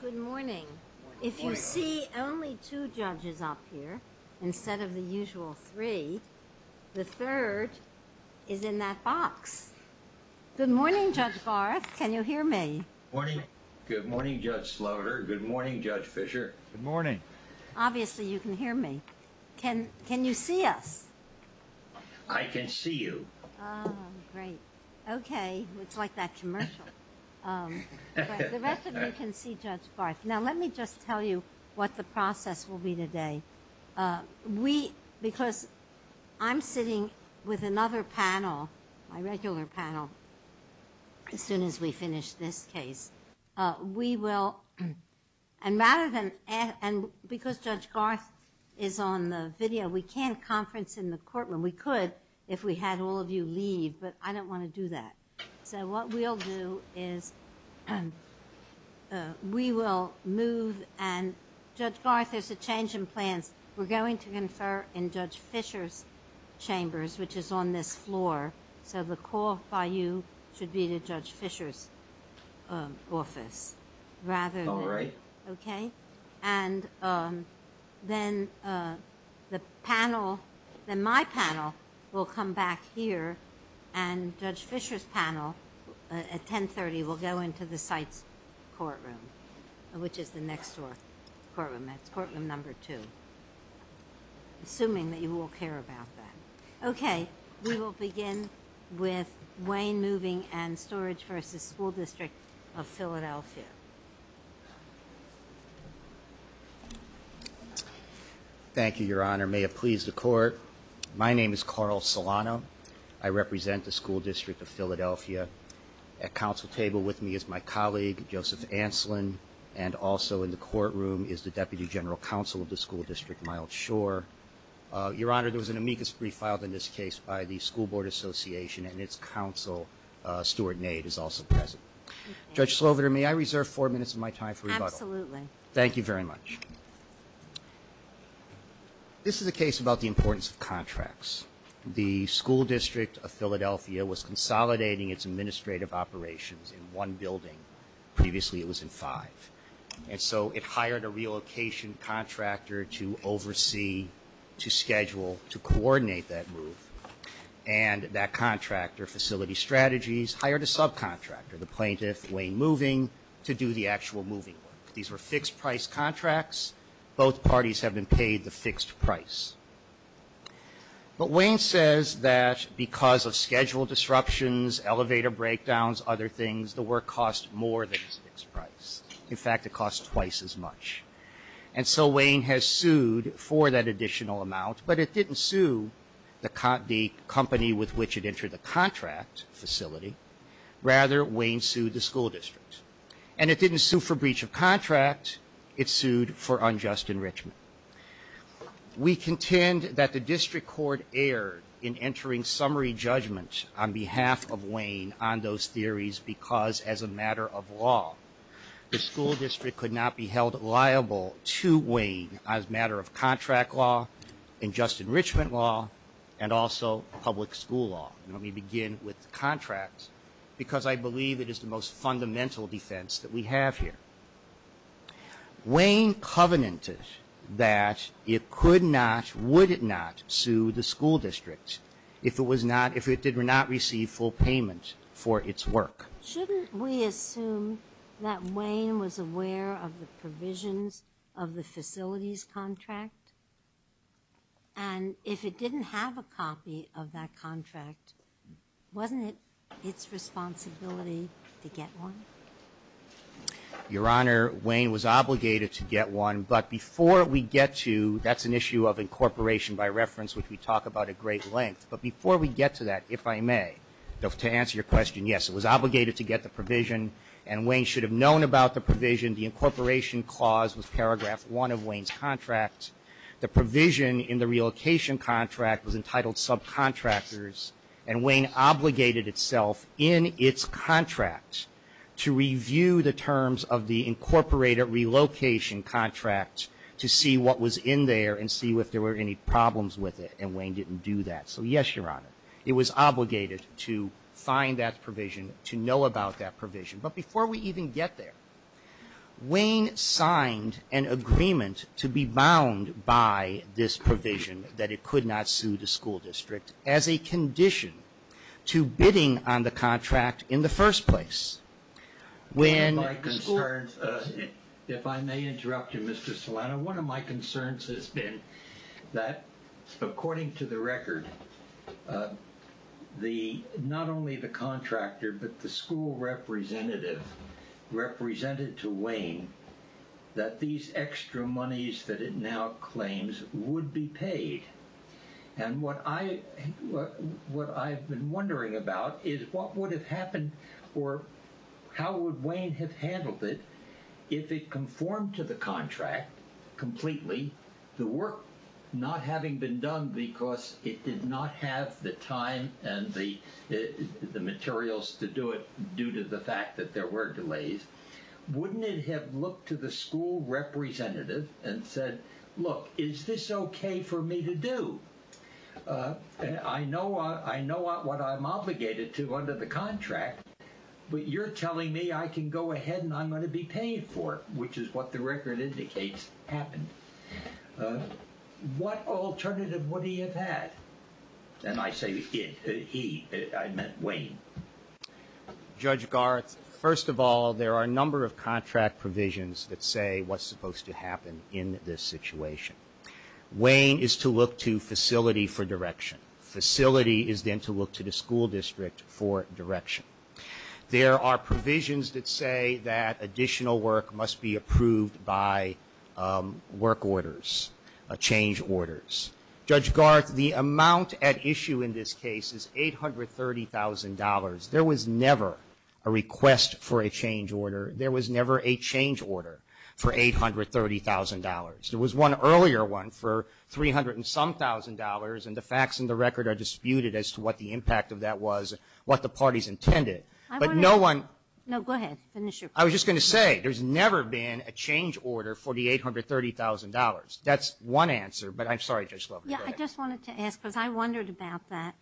v. The School Districtof PAetal v. The School Districtof PAetal Good morning. If you see only two judges up here instead of the usual three, the third is in that box. Good morning, Judge Barth. Can you hear me? Good morning, Judge Slaughter. Good morning, Judge Fisher. Good morning. Obviously, you can hear me. Can you see us? I can see you. Oh, great. Okay. It's like that commercial. The rest of you can see Judge Barth. Now, let me just tell you what the process will be today. Because I'm sitting with another panel, my regular panel, as soon as we finish this case, we will, and because Judge Barth is on the video, we can't conference in the courtroom. We could if we had all of you leave, but I don't want to do that. So what we'll do is we will move, and Judge Barth, there's a change in plans. We're going to confer in Judge Fisher's chambers, which is on this floor. So the call by you should be to Judge Fisher's office. Oh, right. Okay? And then the panel, then my panel will come back here, and Judge Fisher's panel at 10.30 will go into the site's courtroom, which is the next door courtroom. That's courtroom number two, assuming that you all care about that. Okay. We will begin with Wayne Moving and Storage v. School District of Philadelphia. Thank you, Your Honor. May it please the Court. My name is Carl Solano. I represent the School District of Philadelphia. At counsel table with me is my colleague, Joseph Anslin, and also in the courtroom is the Deputy General Counsel of the School District, Myles Shore. Your Honor, there was an amicus brief filed in this case by the School Board Association, and its counsel, Stuart Nade, is also present. Judge Slover, may I reserve four minutes of my time for rebuttal? Absolutely. Thank you very much. This is a case about the importance of contracts. The School District of Philadelphia was consolidating its administrative operations in one building. Previously it was in five. And so it hired a relocation contractor to oversee, to schedule, to coordinate that move. And that contractor, Facility Strategies, hired a subcontractor, the plaintiff, Wayne Moving, to do the actual moving work. These were fixed-price contracts. Both parties have been paid the fixed price. But Wayne says that because of schedule disruptions, elevator breakdowns, other things, the work costs more than its fixed price. In fact, it costs twice as much. And so Wayne has sued for that additional amount, but it didn't sue the company with which it entered the contract facility. Rather, Wayne sued the School District. And it didn't sue for breach of contract. It sued for unjust enrichment. We contend that the district court erred in entering summary judgment on behalf of Wayne on those theories because, as a matter of law, the school district could not be held liable to Wayne as a matter of contract law, unjust enrichment law, and also public school law. And let me begin with contracts, because I believe it is the most fundamental defense that we have here. Wayne covenanted that it could not, would it not, sue the school district if it was not, if it did not receive full payment for its work? Shouldn't we assume that Wayne was aware of the provisions of the facilities contract? And if it didn't have a copy of that contract, wasn't it its responsibility to get one? Your Honor, Wayne was obligated to get one. But before we get to, that's an issue of incorporation by reference, which we talk about at great length. But before we get to that, if I may, to answer your question, yes, it was obligated to get the provision, and Wayne should have known about the provision. The incorporation clause was paragraph one of Wayne's contract. The provision in the relocation contract was entitled subcontractors, and Wayne obligated itself in its contract to review the terms of the incorporated relocation contract to see what was in there and see if there were any problems with it. And Wayne didn't do that. So, yes, Your Honor, it was obligated to find that provision, to know about that provision. But before we even get there, Wayne signed an agreement to be bound by this provision that it could not sue the school district as a condition to bidding on the contract in the first place. When my concerns, if I may interrupt you, Mr. Solano, one of my concerns has been that, according to the record, not only the contractor but the school representative represented to Wayne that these extra monies that it now claims would be paid. And what I've been wondering about is what would have happened or how would Wayne have handled it if it conformed to the contract completely, the work not having been done because it did not have the time and the materials to do it due to the fact that there were delays. Wouldn't it have looked to the school representative and said, look, is this okay for me to do? I know what I'm obligated to under the contract, but you're telling me I can go ahead and I'm going to be paid for it, which is what the record indicates happened. What alternative would he have had? And I say he. I meant Wayne. Judge Garth, first of all, there are a number of contract provisions that say what's supposed to happen in this situation. Wayne is to look to facility for direction. Facility is then to look to the school district for direction. There are provisions that say that additional work must be approved by work orders, change orders. Judge Garth, the amount at issue in this case is $830,000. There was never a request for a change order. There was never a change order for $830,000. There was one earlier one for 300-and-some-thousand dollars, and the facts in the record are disputed as to what the impact of that was, what the parties intended. But no one ---- No, go ahead. Finish your point. I was just going to say, there's never been a change order for the $830,000. That's one answer, but I'm sorry, Judge Glover. Go ahead. Yeah, I just wanted to ask, because I wondered about that.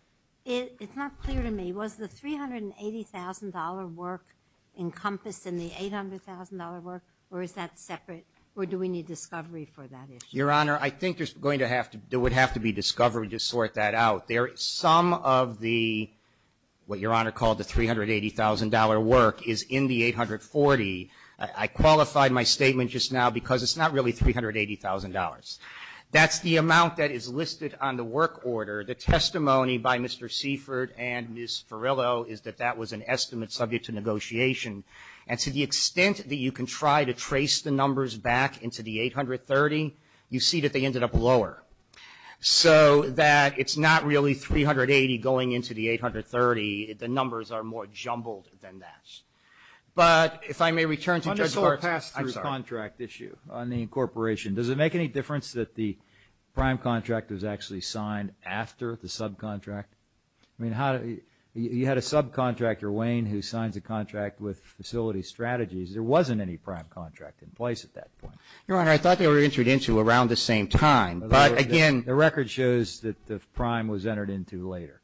It's not clear to me. Was the $380,000 work encompassed in the $800,000 work, or is that separate, or do we need discovery for that issue? Your Honor, I think there's going to have to be discovery to sort that out. Some of the, what Your Honor called the $380,000 work, is in the 840. I qualified my statement just now because it's not really $380,000. That's the amount that is listed on the work order. The testimony by Mr. Seifert and Ms. Farillo is that that was an estimate subject to negotiation. And to the extent that you can try to trace the numbers back into the $830,000, you see that they ended up lower. So that it's not really $380,000 going into the $830,000. The numbers are more jumbled than that. But if I may return to Judge Clark's ---- On this whole pass-through contract issue on the incorporation, does it make any difference that the prime contract was actually signed after the subcontract? I mean, you had a subcontractor, Wayne, who signs a contract with Facilities Strategies. There wasn't any prime contract in place at that point. Your Honor, I thought they were entered into around the same time, but again ---- The record shows that the prime was entered into later.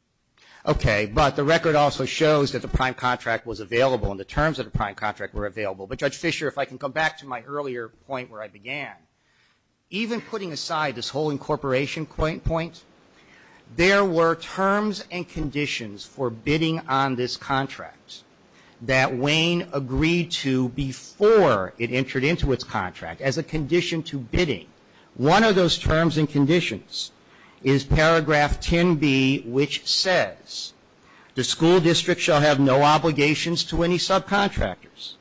Okay, but the record also shows that the prime contract was available and the terms of the prime contract were available. But, Judge Fischer, if I can come back to my earlier point where I began, even putting aside this whole incorporation point, there were terms and conditions for bidding on this contract that Wayne agreed to before it entered into its contract as a condition to bidding. One of those terms and conditions is paragraph 10b, which says, The school district shall have no obligations to any subcontractors.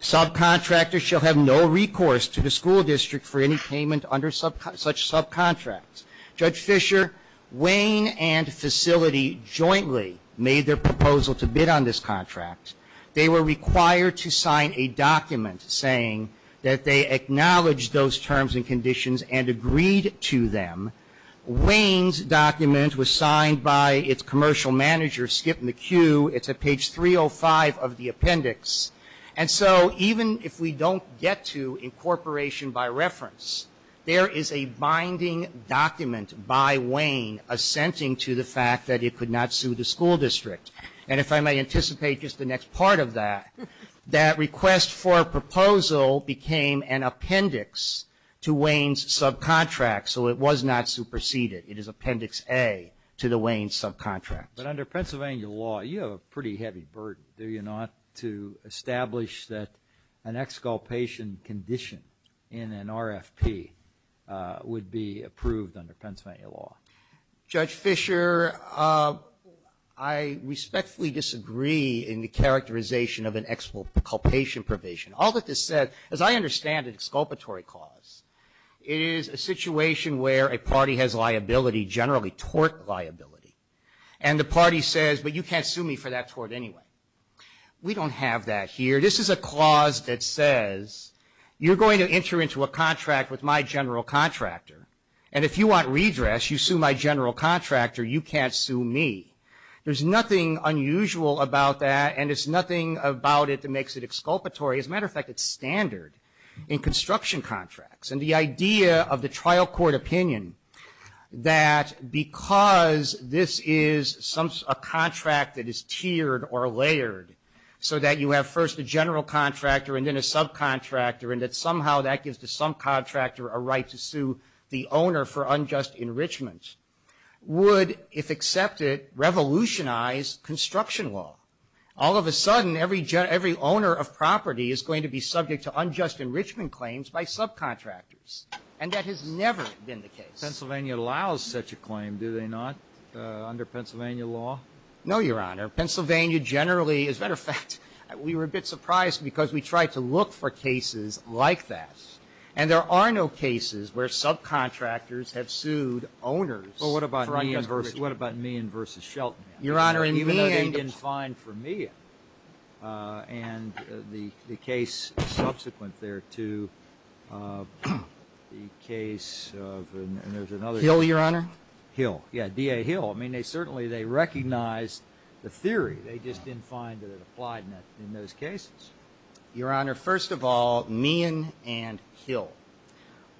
Subcontractors shall have no recourse to the school district for any payment under such subcontracts. Judge Fischer, Wayne and Facility jointly made their proposal to bid on this contract. They were required to sign a document saying that they acknowledged those terms and conditions and agreed to them. Wayne's document was signed by its commercial manager, Skip McHugh. It's at page 305 of the appendix. And so even if we don't get to incorporation by reference, there is a binding document by Wayne assenting to the fact that it could not sue the school district. And if I may anticipate just the next part of that, that request for a proposal became an appendix to Wayne's subcontract, so it was not superseded. It is appendix A to the Wayne subcontract. But under Pennsylvania law, you have a pretty heavy burden, do you not, to establish that an exculpation condition in an RFP would be approved under Pennsylvania law? Judge Fischer, I respectfully disagree in the characterization of an exculpation provision. All that this says, as I understand an exculpatory clause, it is a situation where a party has liability, generally tort liability, and the party says, but you can't sue me for that tort anyway. We don't have that here. This is a clause that says you're going to enter into a contract with my general contractor, and if you want redress, you sue my general contractor, you can't sue me. There's nothing unusual about that, and there's nothing about it that makes it exculpatory. As a matter of fact, it's standard in construction contracts. And the idea of the trial court opinion that because this is a contract that is tiered or layered so that you have first a general contractor and then a subcontractor and that somehow that gives the subcontractor a right to sue the owner for unjust enrichment, would, if accepted, revolutionize construction law. All of a sudden, every owner of property is going to be subject to unjust enrichment claims by subcontractors, and that has never been the case. Pennsylvania allows such a claim, do they not, under Pennsylvania law? No, Your Honor. Pennsylvania generally, as a matter of fact, we were a bit surprised because we tried to look for cases like that, and there are no cases where subcontractors have sued owners for unjust enrichment. Well, what about Meehan v. Shelton? Your Honor, in Meehan the plaintiffs' case. Meehan. And the case subsequent there to the case of, and there's another case. Hill, Your Honor. Hill. Yeah, D.A. Hill. I mean, they certainly, they recognized the theory. They just didn't find that it applied in those cases. Your Honor, first of all, Meehan and Hill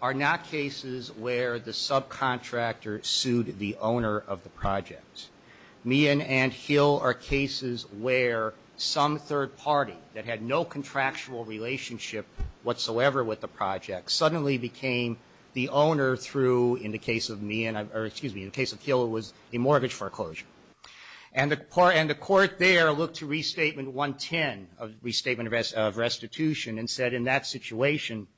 are not cases where the subcontractor sued the owner of the projects. Meehan and Hill are cases where some third party that had no contractual relationship whatsoever with the project suddenly became the owner through, in the case of Meehan or, excuse me, in the case of Hill, it was a mortgage foreclosure. And the court there looked to Restatement 110, Restatement of Restitution, and said in that situation,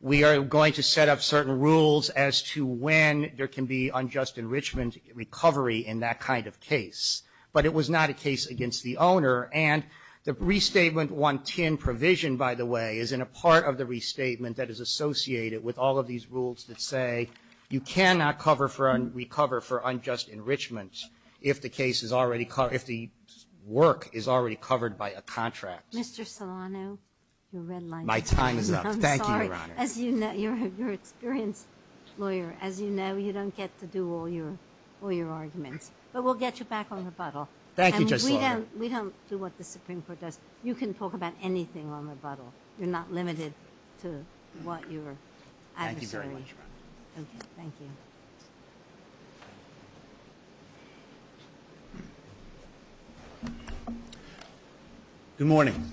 we are going to set up certain rules as to when there can be unjust enrichment recovery in that kind of case. But it was not a case against the owner. And the Restatement 110 provision, by the way, is in a part of the restatement that is associated with all of these rules that say you cannot cover for, recover for unjust enrichment if the case is already, if the work is already covered by a contract. Mr. Solano, your red light. My time is up. Thank you, Your Honor. As you know, you're an experienced lawyer. As you know, you don't get to do all your arguments. But we'll get you back on rebuttal. Thank you, Judge Solano. We don't do what the Supreme Court does. You can talk about anything on rebuttal. You're not limited to what your adversary. Thank you very much, Your Honor. Thank you. Good morning.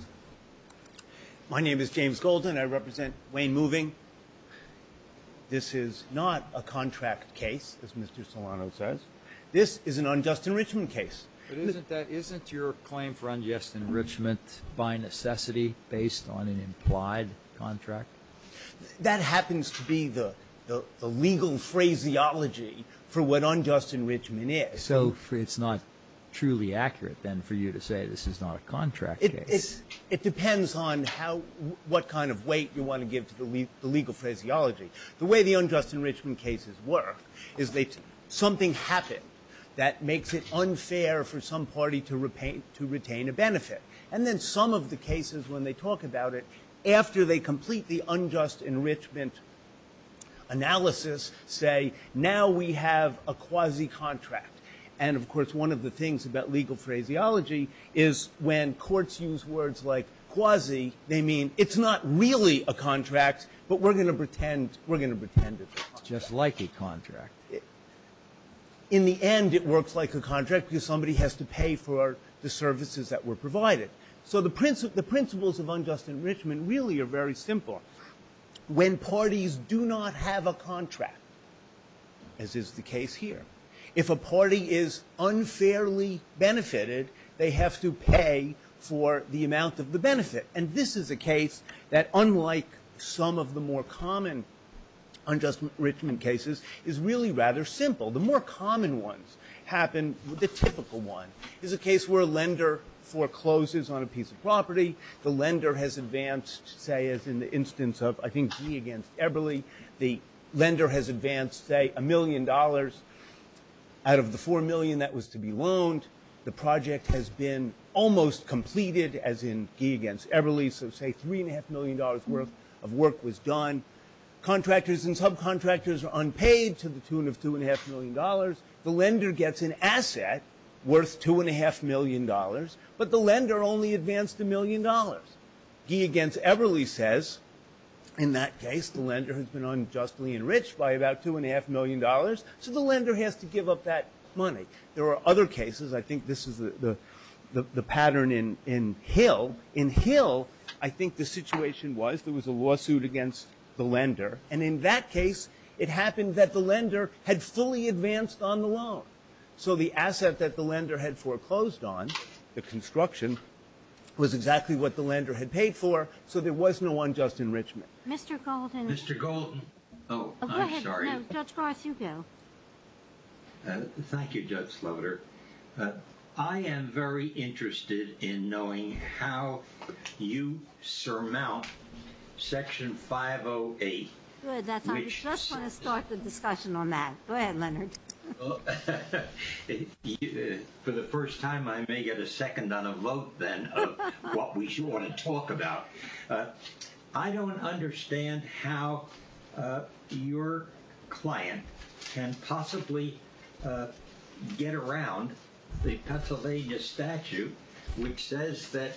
My name is James Golden. I represent Wayne Moving. This is not a contract case, as Mr. Solano says. This is an unjust enrichment case. But isn't that, isn't your claim for unjust enrichment by necessity based on an implied contract? That happens to be the legal phraseology for what unjust enrichment is. So it's not truly accurate, then, for you to say this is not a contract case. It depends on how, what kind of weight you want to give to the legal phraseology. The way the unjust enrichment cases work is that something happened that makes it unfair for some party to retain a benefit. And then some of the cases, when they talk about it, after they complete the unjust enrichment analysis, say, now we have a quasi-contract. And, of course, one of the things about legal phraseology is when courts use words like quasi, they mean it's not really a contract, but we're going to pretend it's a contract. It's just like a contract. In the end, it works like a contract because somebody has to pay for the services that were provided. So the principles of unjust enrichment really are very simple. When parties do not have a contract, as is the case here, if a party is unfairly benefited, they have to pay for the amount of the benefit. And this is a case that, unlike some of the more common unjust enrichment cases, is really rather simple. The more common ones happen. The typical one is a case where a lender forecloses on a piece of property. The lender has advanced, say, as in the instance of, I think, Guy against Eberly. The lender has advanced, say, a million dollars. Out of the four million that was to be loaned, the project has been almost completed, as in Guy against Eberly, so say $3.5 million worth of work was done. Contractors and subcontractors are unpaid to the tune of $2.5 million. The lender gets an asset worth $2.5 million, but the lender only advanced a million dollars. Guy against Eberly says, in that case, the lender has been unjustly enriched by about $2.5 million, so the lender has to give up that money. There are other cases. I think this is the pattern in Hill. In Hill, I think the situation was there was a lawsuit against the lender, and in that case it happened that the lender had fully advanced on the loan. So the asset that the lender had foreclosed on, the construction, was exactly what the lender had paid for, so there was no unjust enrichment. Mr. Golden. Mr. Golden. Oh, I'm sorry. Go ahead. No, Judge Garth, you go. Thank you, Judge Slaughter. I am very interested in knowing how you surmount Section 508. Good. Let's start the discussion on that. Go ahead, Leonard. For the first time, I may get a second on a vote, then, of what we want to talk about. I don't understand how your client can possibly get around the Pennsylvania statute, which says that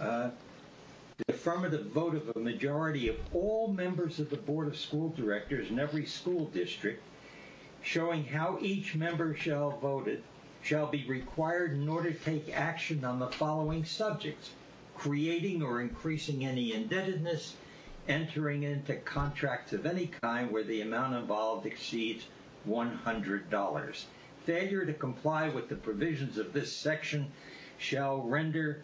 the affirmative vote of a majority of all members of the Board of School Directors in every school district, showing how each member shall be required in order to take action on the following subjects, creating or increasing any indebtedness, entering into contracts of any kind where the amount involved exceeds $100. Failure to comply with the provisions of this section shall render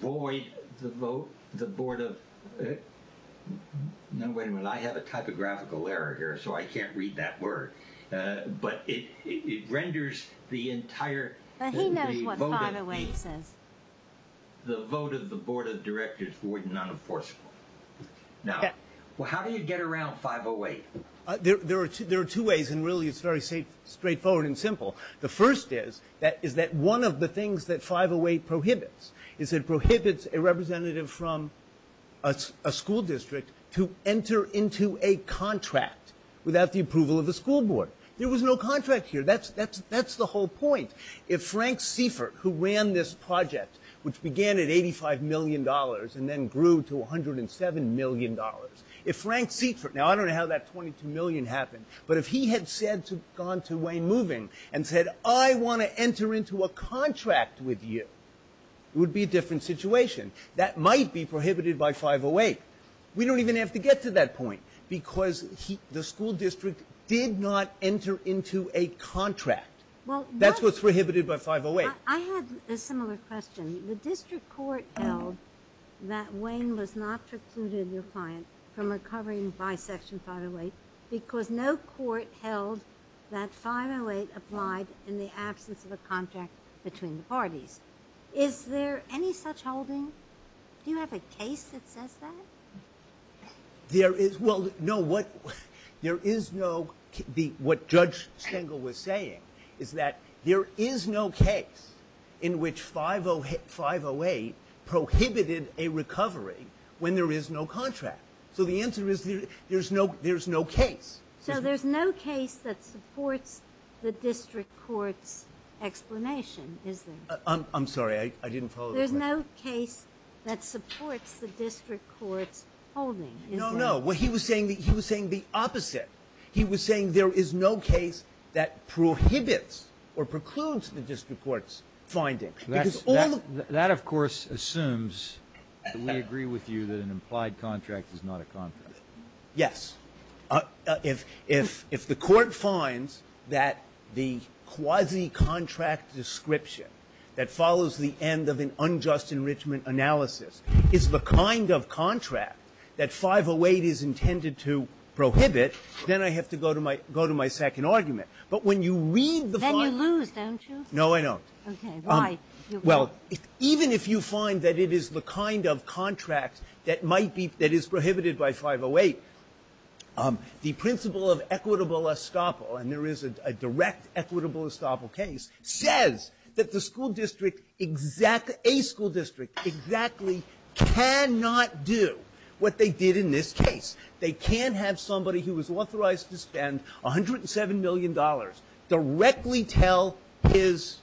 void the vote of the Board of — no, wait a minute, I have a typographical error here, so I can't read that word. But it renders the entire — He knows what 508 says. The vote of the Board of Directors void and unenforceable. Now, how do you get around 508? There are two ways, and really it's very straightforward and simple. The first is that one of the things that 508 prohibits is it prohibits a representative from a school district to enter into a contract without the approval of the school board. There was no contract here. That's the whole point. If Frank Seifert, who ran this project, which began at $85 million and then grew to $107 million, if Frank Seifert — now, I don't know how that $22 million happened, but if he had gone to Wayne Moving and said, I want to enter into a contract with you, it would be a different situation. That might be prohibited by 508. We don't even have to get to that point because the school district did not enter into a contract. That's what's prohibited by 508. I had a similar question. The district court held that Wayne was not precluded, the client, from recovering bisection 508 because no court held that 508 applied in the absence of a contract between the parties. Is there any such holding? Do you have a case that says that? Well, no, what Judge Stengel was saying is that there is no case in which 508 prohibited a recovery when there is no contract. So the answer is there's no case. So there's no case that supports the district court's explanation, is there? I'm sorry. I didn't follow the question. There's no case that supports the district court's holding, is there? No, no. He was saying the opposite. He was saying there is no case that prohibits or precludes the district court's finding. That, of course, assumes that we agree with you that an implied contract is not a contract. Yes. If the court finds that the quasi-contract description that follows the end of an unjust enrichment analysis is the kind of contract that 508 is intended to prohibit, then I have to go to my second argument. But when you read the 508 ---- Then you lose, don't you? No, I don't. Why? Well, even if you find that it is the kind of contract that might be ---- that is prohibited by 508, the principle of equitable estoppel, and there is a direct equitable estoppel case, says that the school district exactly ---- a school district exactly cannot do what they did in this case. They can't have somebody who is authorized to spend $107 million directly tell his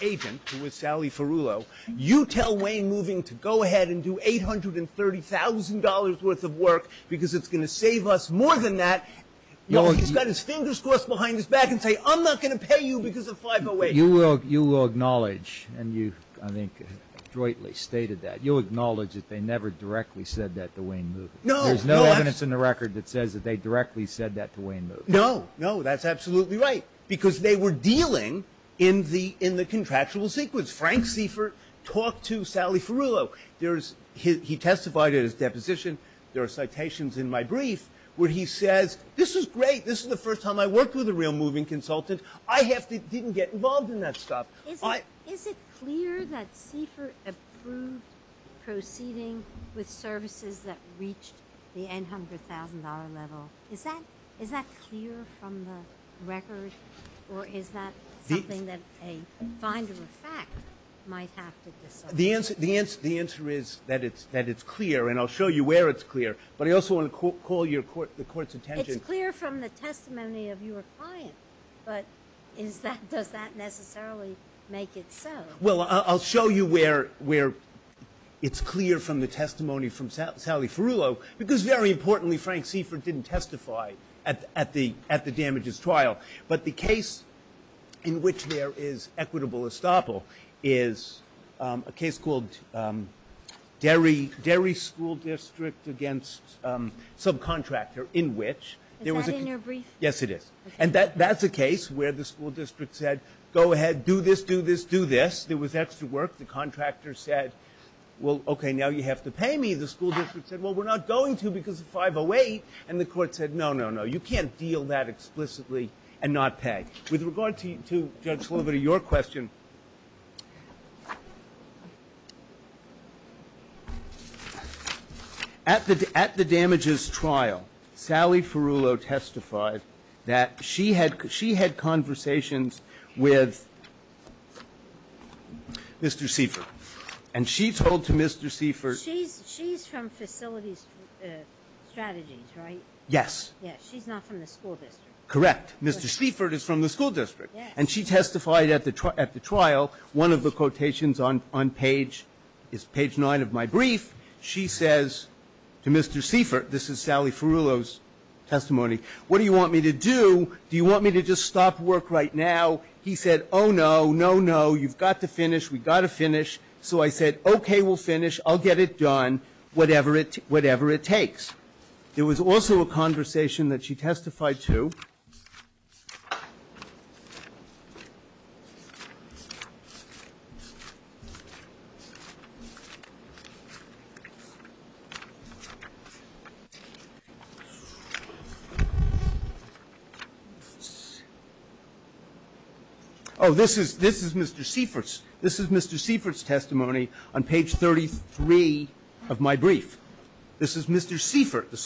agent, who is Sally Ferullo, you tell Wayne Moving to go ahead and do $830,000 worth of work because it's going to save us more than that. He's got his fingers crossed behind his back and say, I'm not going to pay you because of 508. You will acknowledge, and you, I think, jointly stated that, you'll acknowledge that they never directly said that to Wayne Moving. No. There's no evidence in the record that says that they directly said that to Wayne No. That's absolutely right because they were dealing in the contractual sequence. Frank Seifert talked to Sally Ferullo. He testified at his deposition. There are citations in my brief where he says, this is great. This is the first time I worked with a real moving consultant. I didn't get involved in that stuff. Is it clear that Seifert approved proceeding with services that reached the $800,000 level? Is that clear from the record, or is that something that a finder of fact might have to decide? The answer is that it's clear, and I'll show you where it's clear. But I also want to call the Court's attention. It's clear from the testimony of your client, but does that necessarily make it so? Well, I'll show you where it's clear from the testimony from Sally Ferullo, because, very importantly, Frank Seifert didn't testify at the damages trial. But the case in which there is equitable estoppel is a case called Derry School District against subcontractor in which there was a case. Is that in your brief? Yes, it is. And that's a case where the school district said, go ahead, do this, do this, do this. There was extra work. The contractor said, well, okay, now you have to pay me. The school district said, well, we're not going to because of 508. And the Court said, no, no, no, you can't deal that explicitly and not pay. With regard to Judge Slover, to your question, at the damages trial, Sally Ferullo testified that she had conversations with Mr. Seifert, and she told to Mr. Seifert She's from Facilities Strategies, right? Yes. She's not from the school district. Correct. Mr. Seifert is from the school district. And she testified at the trial. One of the quotations on page is page 9 of my brief. She says to Mr. Seifert, this is Sally Ferullo's testimony, what do you want me to do, do you want me to just stop work right now? He said, oh, no, no, no, you've got to finish, we've got to finish. So I said, okay, we'll finish, I'll get it done, whatever it takes. There was also a conversation that she testified to. Oh, this is Mr. Seifert's. This is Mr. Seifert's testimony on page 33 of my brief. This is Mr. Seifert, the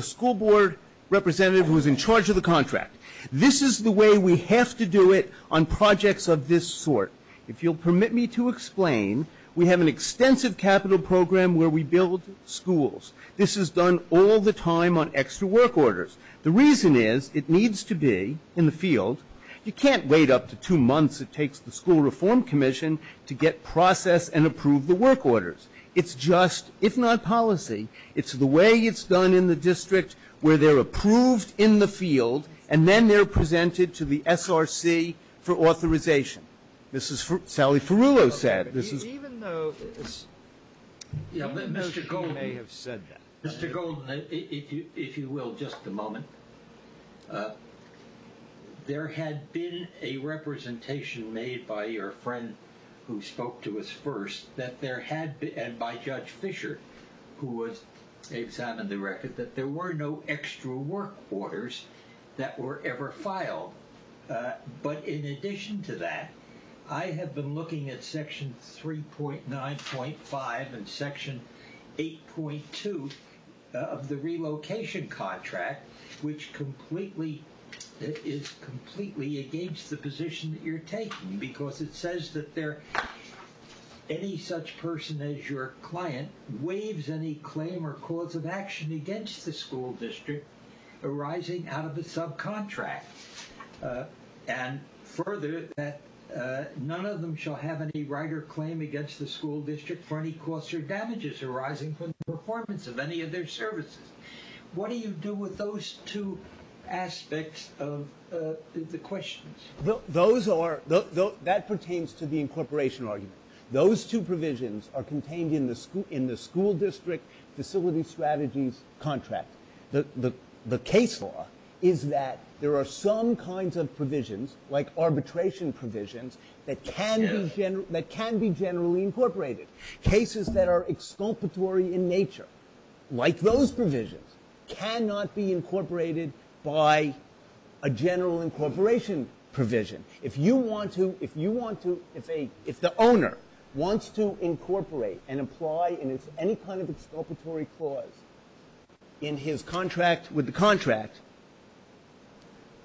school board representative who is in charge of the contract. This is the way we have to do it on projects of this sort. If you'll permit me to explain, we have an extensive capital program where we build schools. This is done all the time on extra work orders. The reason is it needs to be in the field. You can't wait up to two months, it takes the school reform commission, to get process and approve the work orders. It's just, if not policy, it's the way it's done in the district where they're approved in the field and then they're presented to the SRC for authorization. This is what Sally Ferullo said. Mr. Golden, if you will, just a moment. There had been a representation made by your friend who spoke to us first that there had been, and by Judge Fischer, who was the examiner of the record, that there were no extra work orders that were ever filed. In addition to that, I have been looking at section 3.9.5 and section 8.2 of the relocation contract, which is completely against the position that you're taking, because it says that any such person as your client waives any claim or cause of action against the school district arising out of a subcontract. Further, none of them shall have any right or claim against the school district for any costs or damages arising from the performance of any of their services. What do you do with those two aspects of the questions? That pertains to the incorporation argument. Those two provisions are contained in the school district facility strategies contract. The case law is that there are some kinds of provisions, like arbitration provisions, that can be generally incorporated. Cases that are exculpatory in nature, like those provisions, cannot be incorporated by a general incorporation provision. If the owner wants to incorporate and apply any kind of exculpatory clause in his contract with the contract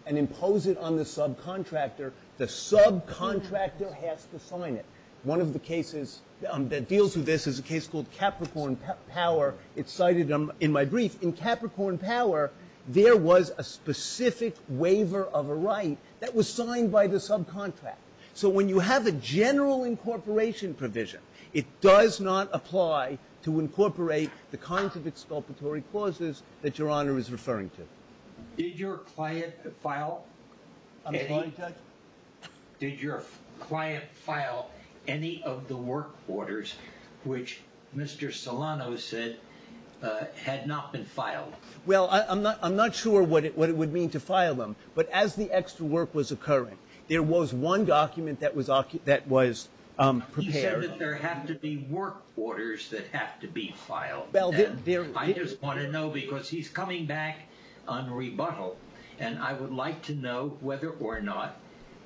and impose it on the subcontractor, the subcontractor has to sign it. One of the cases that deals with this is a case called Capricorn Power. It's cited in my brief. In Capricorn Power, there was a specific waiver of a right that was signed by the subcontractor. So when you have a general incorporation provision, it does not apply to incorporate the kinds of exculpatory clauses that Your Honor is referring to. Did your client file any of the work orders which Mr. Solano said had not been filed? Well, I'm not sure what it would mean to file them. But as the extra work was occurring, there was one document that was prepared. He said that there have to be work orders that have to be filed. I just want to know because he's coming back on rebuttal, and I would like to know whether or not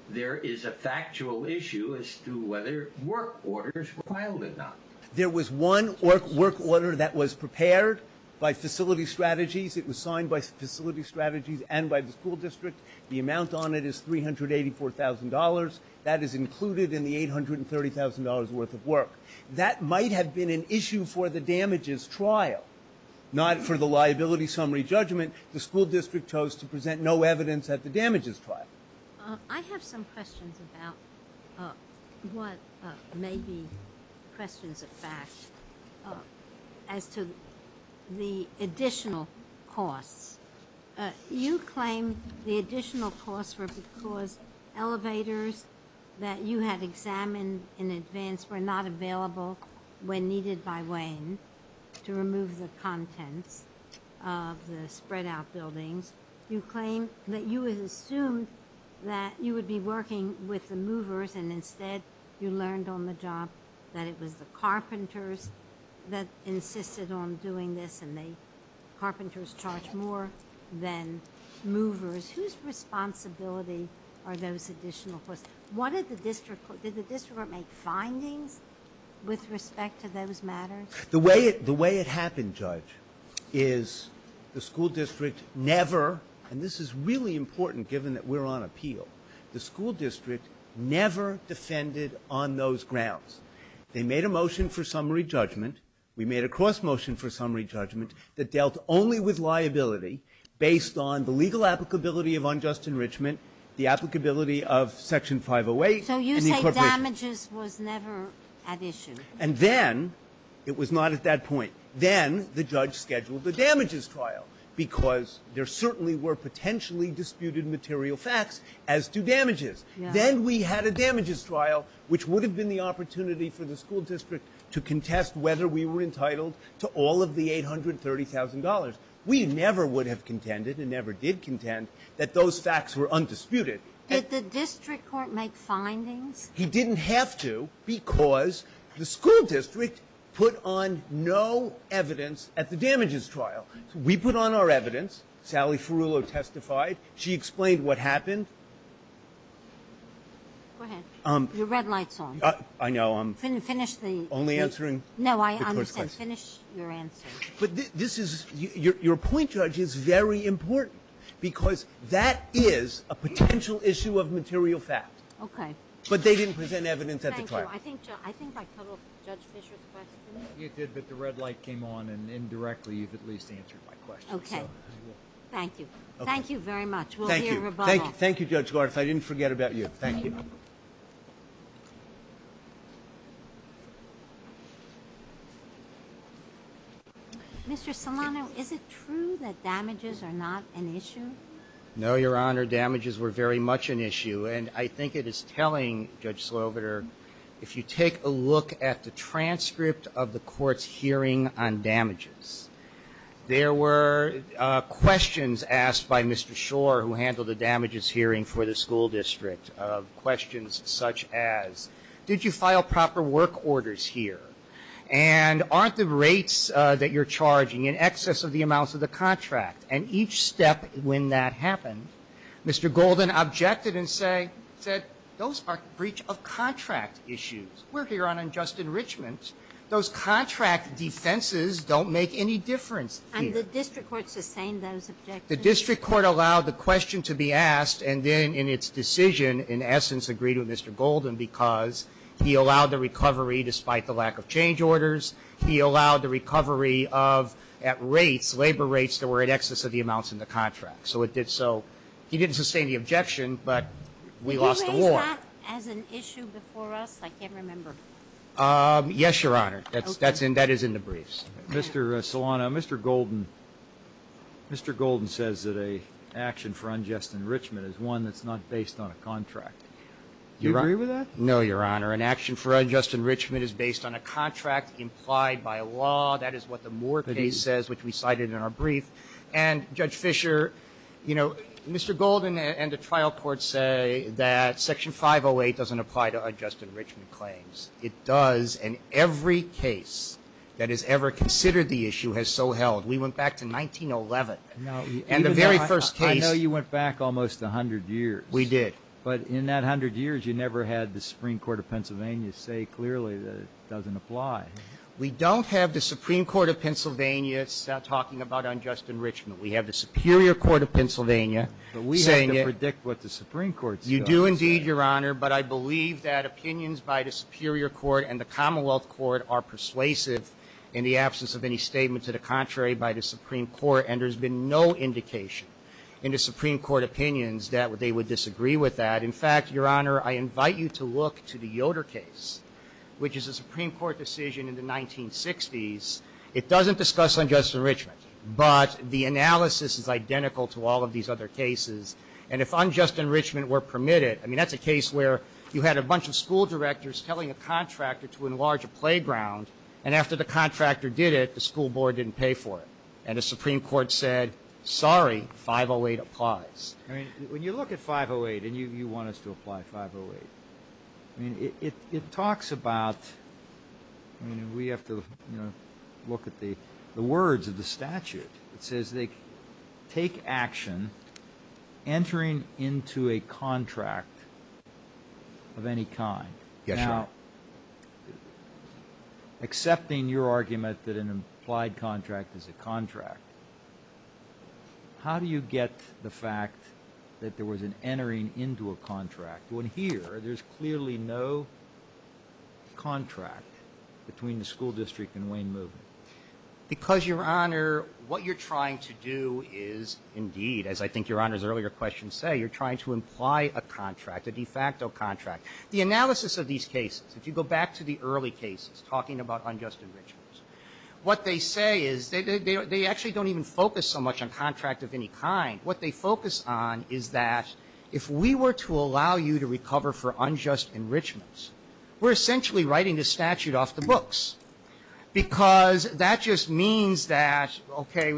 there is a factual issue as to whether work orders were filed or not. There was one work order that was prepared by Facility Strategies. It was signed by Facility Strategies and by the school district. The amount on it is $384,000. That is included in the $830,000 worth of work. That might have been an issue for the damages trial, not for the liability summary judgment. The school district chose to present no evidence at the damages trial. I have some questions about what may be questions of fact as to the additional costs. You claim the additional costs were because elevators that you had examined in advance were not available when needed by Wayne to remove the contents of the spread out buildings. You claim that you had assumed that you would be working with the movers, and instead you learned on the job that it was the carpenters that insisted on doing this, and the carpenters charged more than movers. Whose responsibility are those additional costs? Did the district court make findings with respect to those matters? The way it happened, Judge, is the school district never, and this is really important given that we're on appeal, the school district never defended on those grounds. They made a motion for summary judgment. We made a cross motion for summary judgment that dealt only with liability based on the legal applicability of unjust enrichment, the applicability of Section 508. And the appropriation. So you say damages was never at issue. And then it was not at that point. Then the judge scheduled the damages trial because there certainly were potentially disputed material facts as to damages. Then we had a damages trial, which would have been the opportunity for the school district to contest whether we were entitled to all of the $830,000. We never would have contended and never did contend that those facts were undisputed. Did the district court make findings? He didn't have to because the school district put on no evidence at the damages trial. We put on our evidence. Sally Ferullo testified. She explained what happened. Go ahead. Your red light's on. I know. Finish the question. Only answering the court's question. No, I understand. Finish your answer. Your point, Judge, is very important because that is a potential issue of material fact. Okay. But they didn't present evidence at the trial. Thank you. I think I covered Judge Fischer's question. You did, but the red light came on and indirectly you've at least answered my question. Okay. Thank you. Thank you very much. We'll hear rebuttal. Thank you, Judge Gorth. I didn't forget about you. Thank you. Mr. Solano, is it true that damages are not an issue? No, Your Honor. Damages were very much an issue. And I think it is telling, Judge Sloviter, if you take a look at the transcript of the court's hearing on damages, there were questions asked by Mr. Schor, who handled the damages hearing for the school district, of questions such as, did you file proper work orders here? And aren't the rates that you're charging in excess of the amounts of the contract? And each step when that happened, Mr. Golden objected and said, those are breach of contract issues. We're here on unjust enrichment. Those contract defenses don't make any difference here. And the district court sustained those objections? The district court allowed the question to be asked and then in its decision, in essence, agreed with Mr. Golden because he allowed the recovery despite the lack of change orders. He allowed the recovery of, at rates, labor rates that were in excess of the amounts in the contract. So it did so. He didn't sustain the objection, but we lost the war. Did you raise that as an issue before us? I can't remember. Yes, Your Honor. That is in the briefs. Mr. Solano, Mr. Golden says that an action for unjust enrichment is one that's not based on a contract. Do you agree with that? No, Your Honor. An action for unjust enrichment is based on a contract implied by law. That is what the Moore case says, which we cited in our brief. And, Judge Fisher, you know, Mr. Golden and the trial court say that Section 508 doesn't apply to unjust enrichment claims. It does in every case that is ever considered the issue has so held. We went back to 1911 and the very first case. I know you went back almost 100 years. We did. But in that 100 years, you never had the Supreme Court of Pennsylvania say clearly that it doesn't apply. We don't have the Supreme Court of Pennsylvania talking about unjust enrichment. We have the Superior Court of Pennsylvania saying it. But we have to predict what the Supreme Court says. You do indeed, Your Honor, but I believe that opinions by the Superior Court and the Commonwealth Court are persuasive in the absence of any statement to the contrary by the Supreme Court. And there has been no indication in the Supreme Court opinions that they would disagree with that. In fact, Your Honor, I invite you to look to the Yoder case, which is a Supreme Court decision in the 1960s. It doesn't discuss unjust enrichment, but the analysis is identical to all of these other cases. And if unjust enrichment were permitted, I mean, that's a case where you had a bunch of school directors telling a contractor to enlarge a playground, and after the contractor did it, the school board didn't pay for it. And the Supreme Court said, sorry, 508 applies. I mean, when you look at 508 and you want us to apply 508, I mean, it talks about, I mean, we have to, you know, look at the words of the statute. It says they take action entering into a contract of any kind. Yes, Your Honor. Now, accepting your argument that an implied contract is a contract, how do you get the fact that there was an entering into a contract, when here there's clearly no contract between the school district and Wayne Movement? Because, Your Honor, what you're trying to do is indeed, as I think Your Honor's earlier questions say, you're trying to imply a contract, a de facto contract. The analysis of these cases, if you go back to the early cases, talking about unjust enrichments, what they say is they actually don't even focus so much on contract of any kind. What they focus on is that if we were to allow you to recover for unjust enrichments, we're essentially writing the statute off the books. Because that just means that, okay,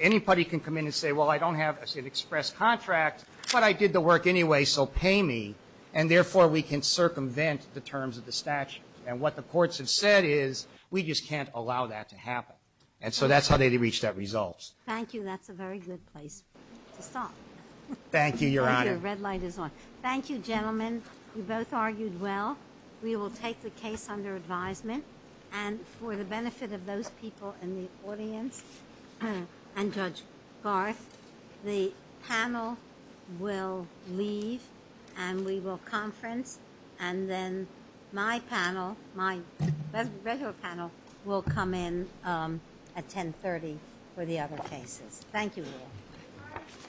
anybody can come in and say, well, I don't have an express contract, but I did the work anyway, so pay me. And therefore, we can circumvent the terms of the statute. And what the courts have said is we just can't allow that to happen. And so that's how they reached that result. Thank you. That's a very good place to stop. Thank you, Your Honor. Thank you. The red light is on. Thank you, gentlemen. You both argued well. We will take the case under advisement. And for the benefit of those people in the audience and Judge Garth, the panel will leave and we will conference. And then my panel, my regular panel, will come in at 1030 for the other cases. Thank you.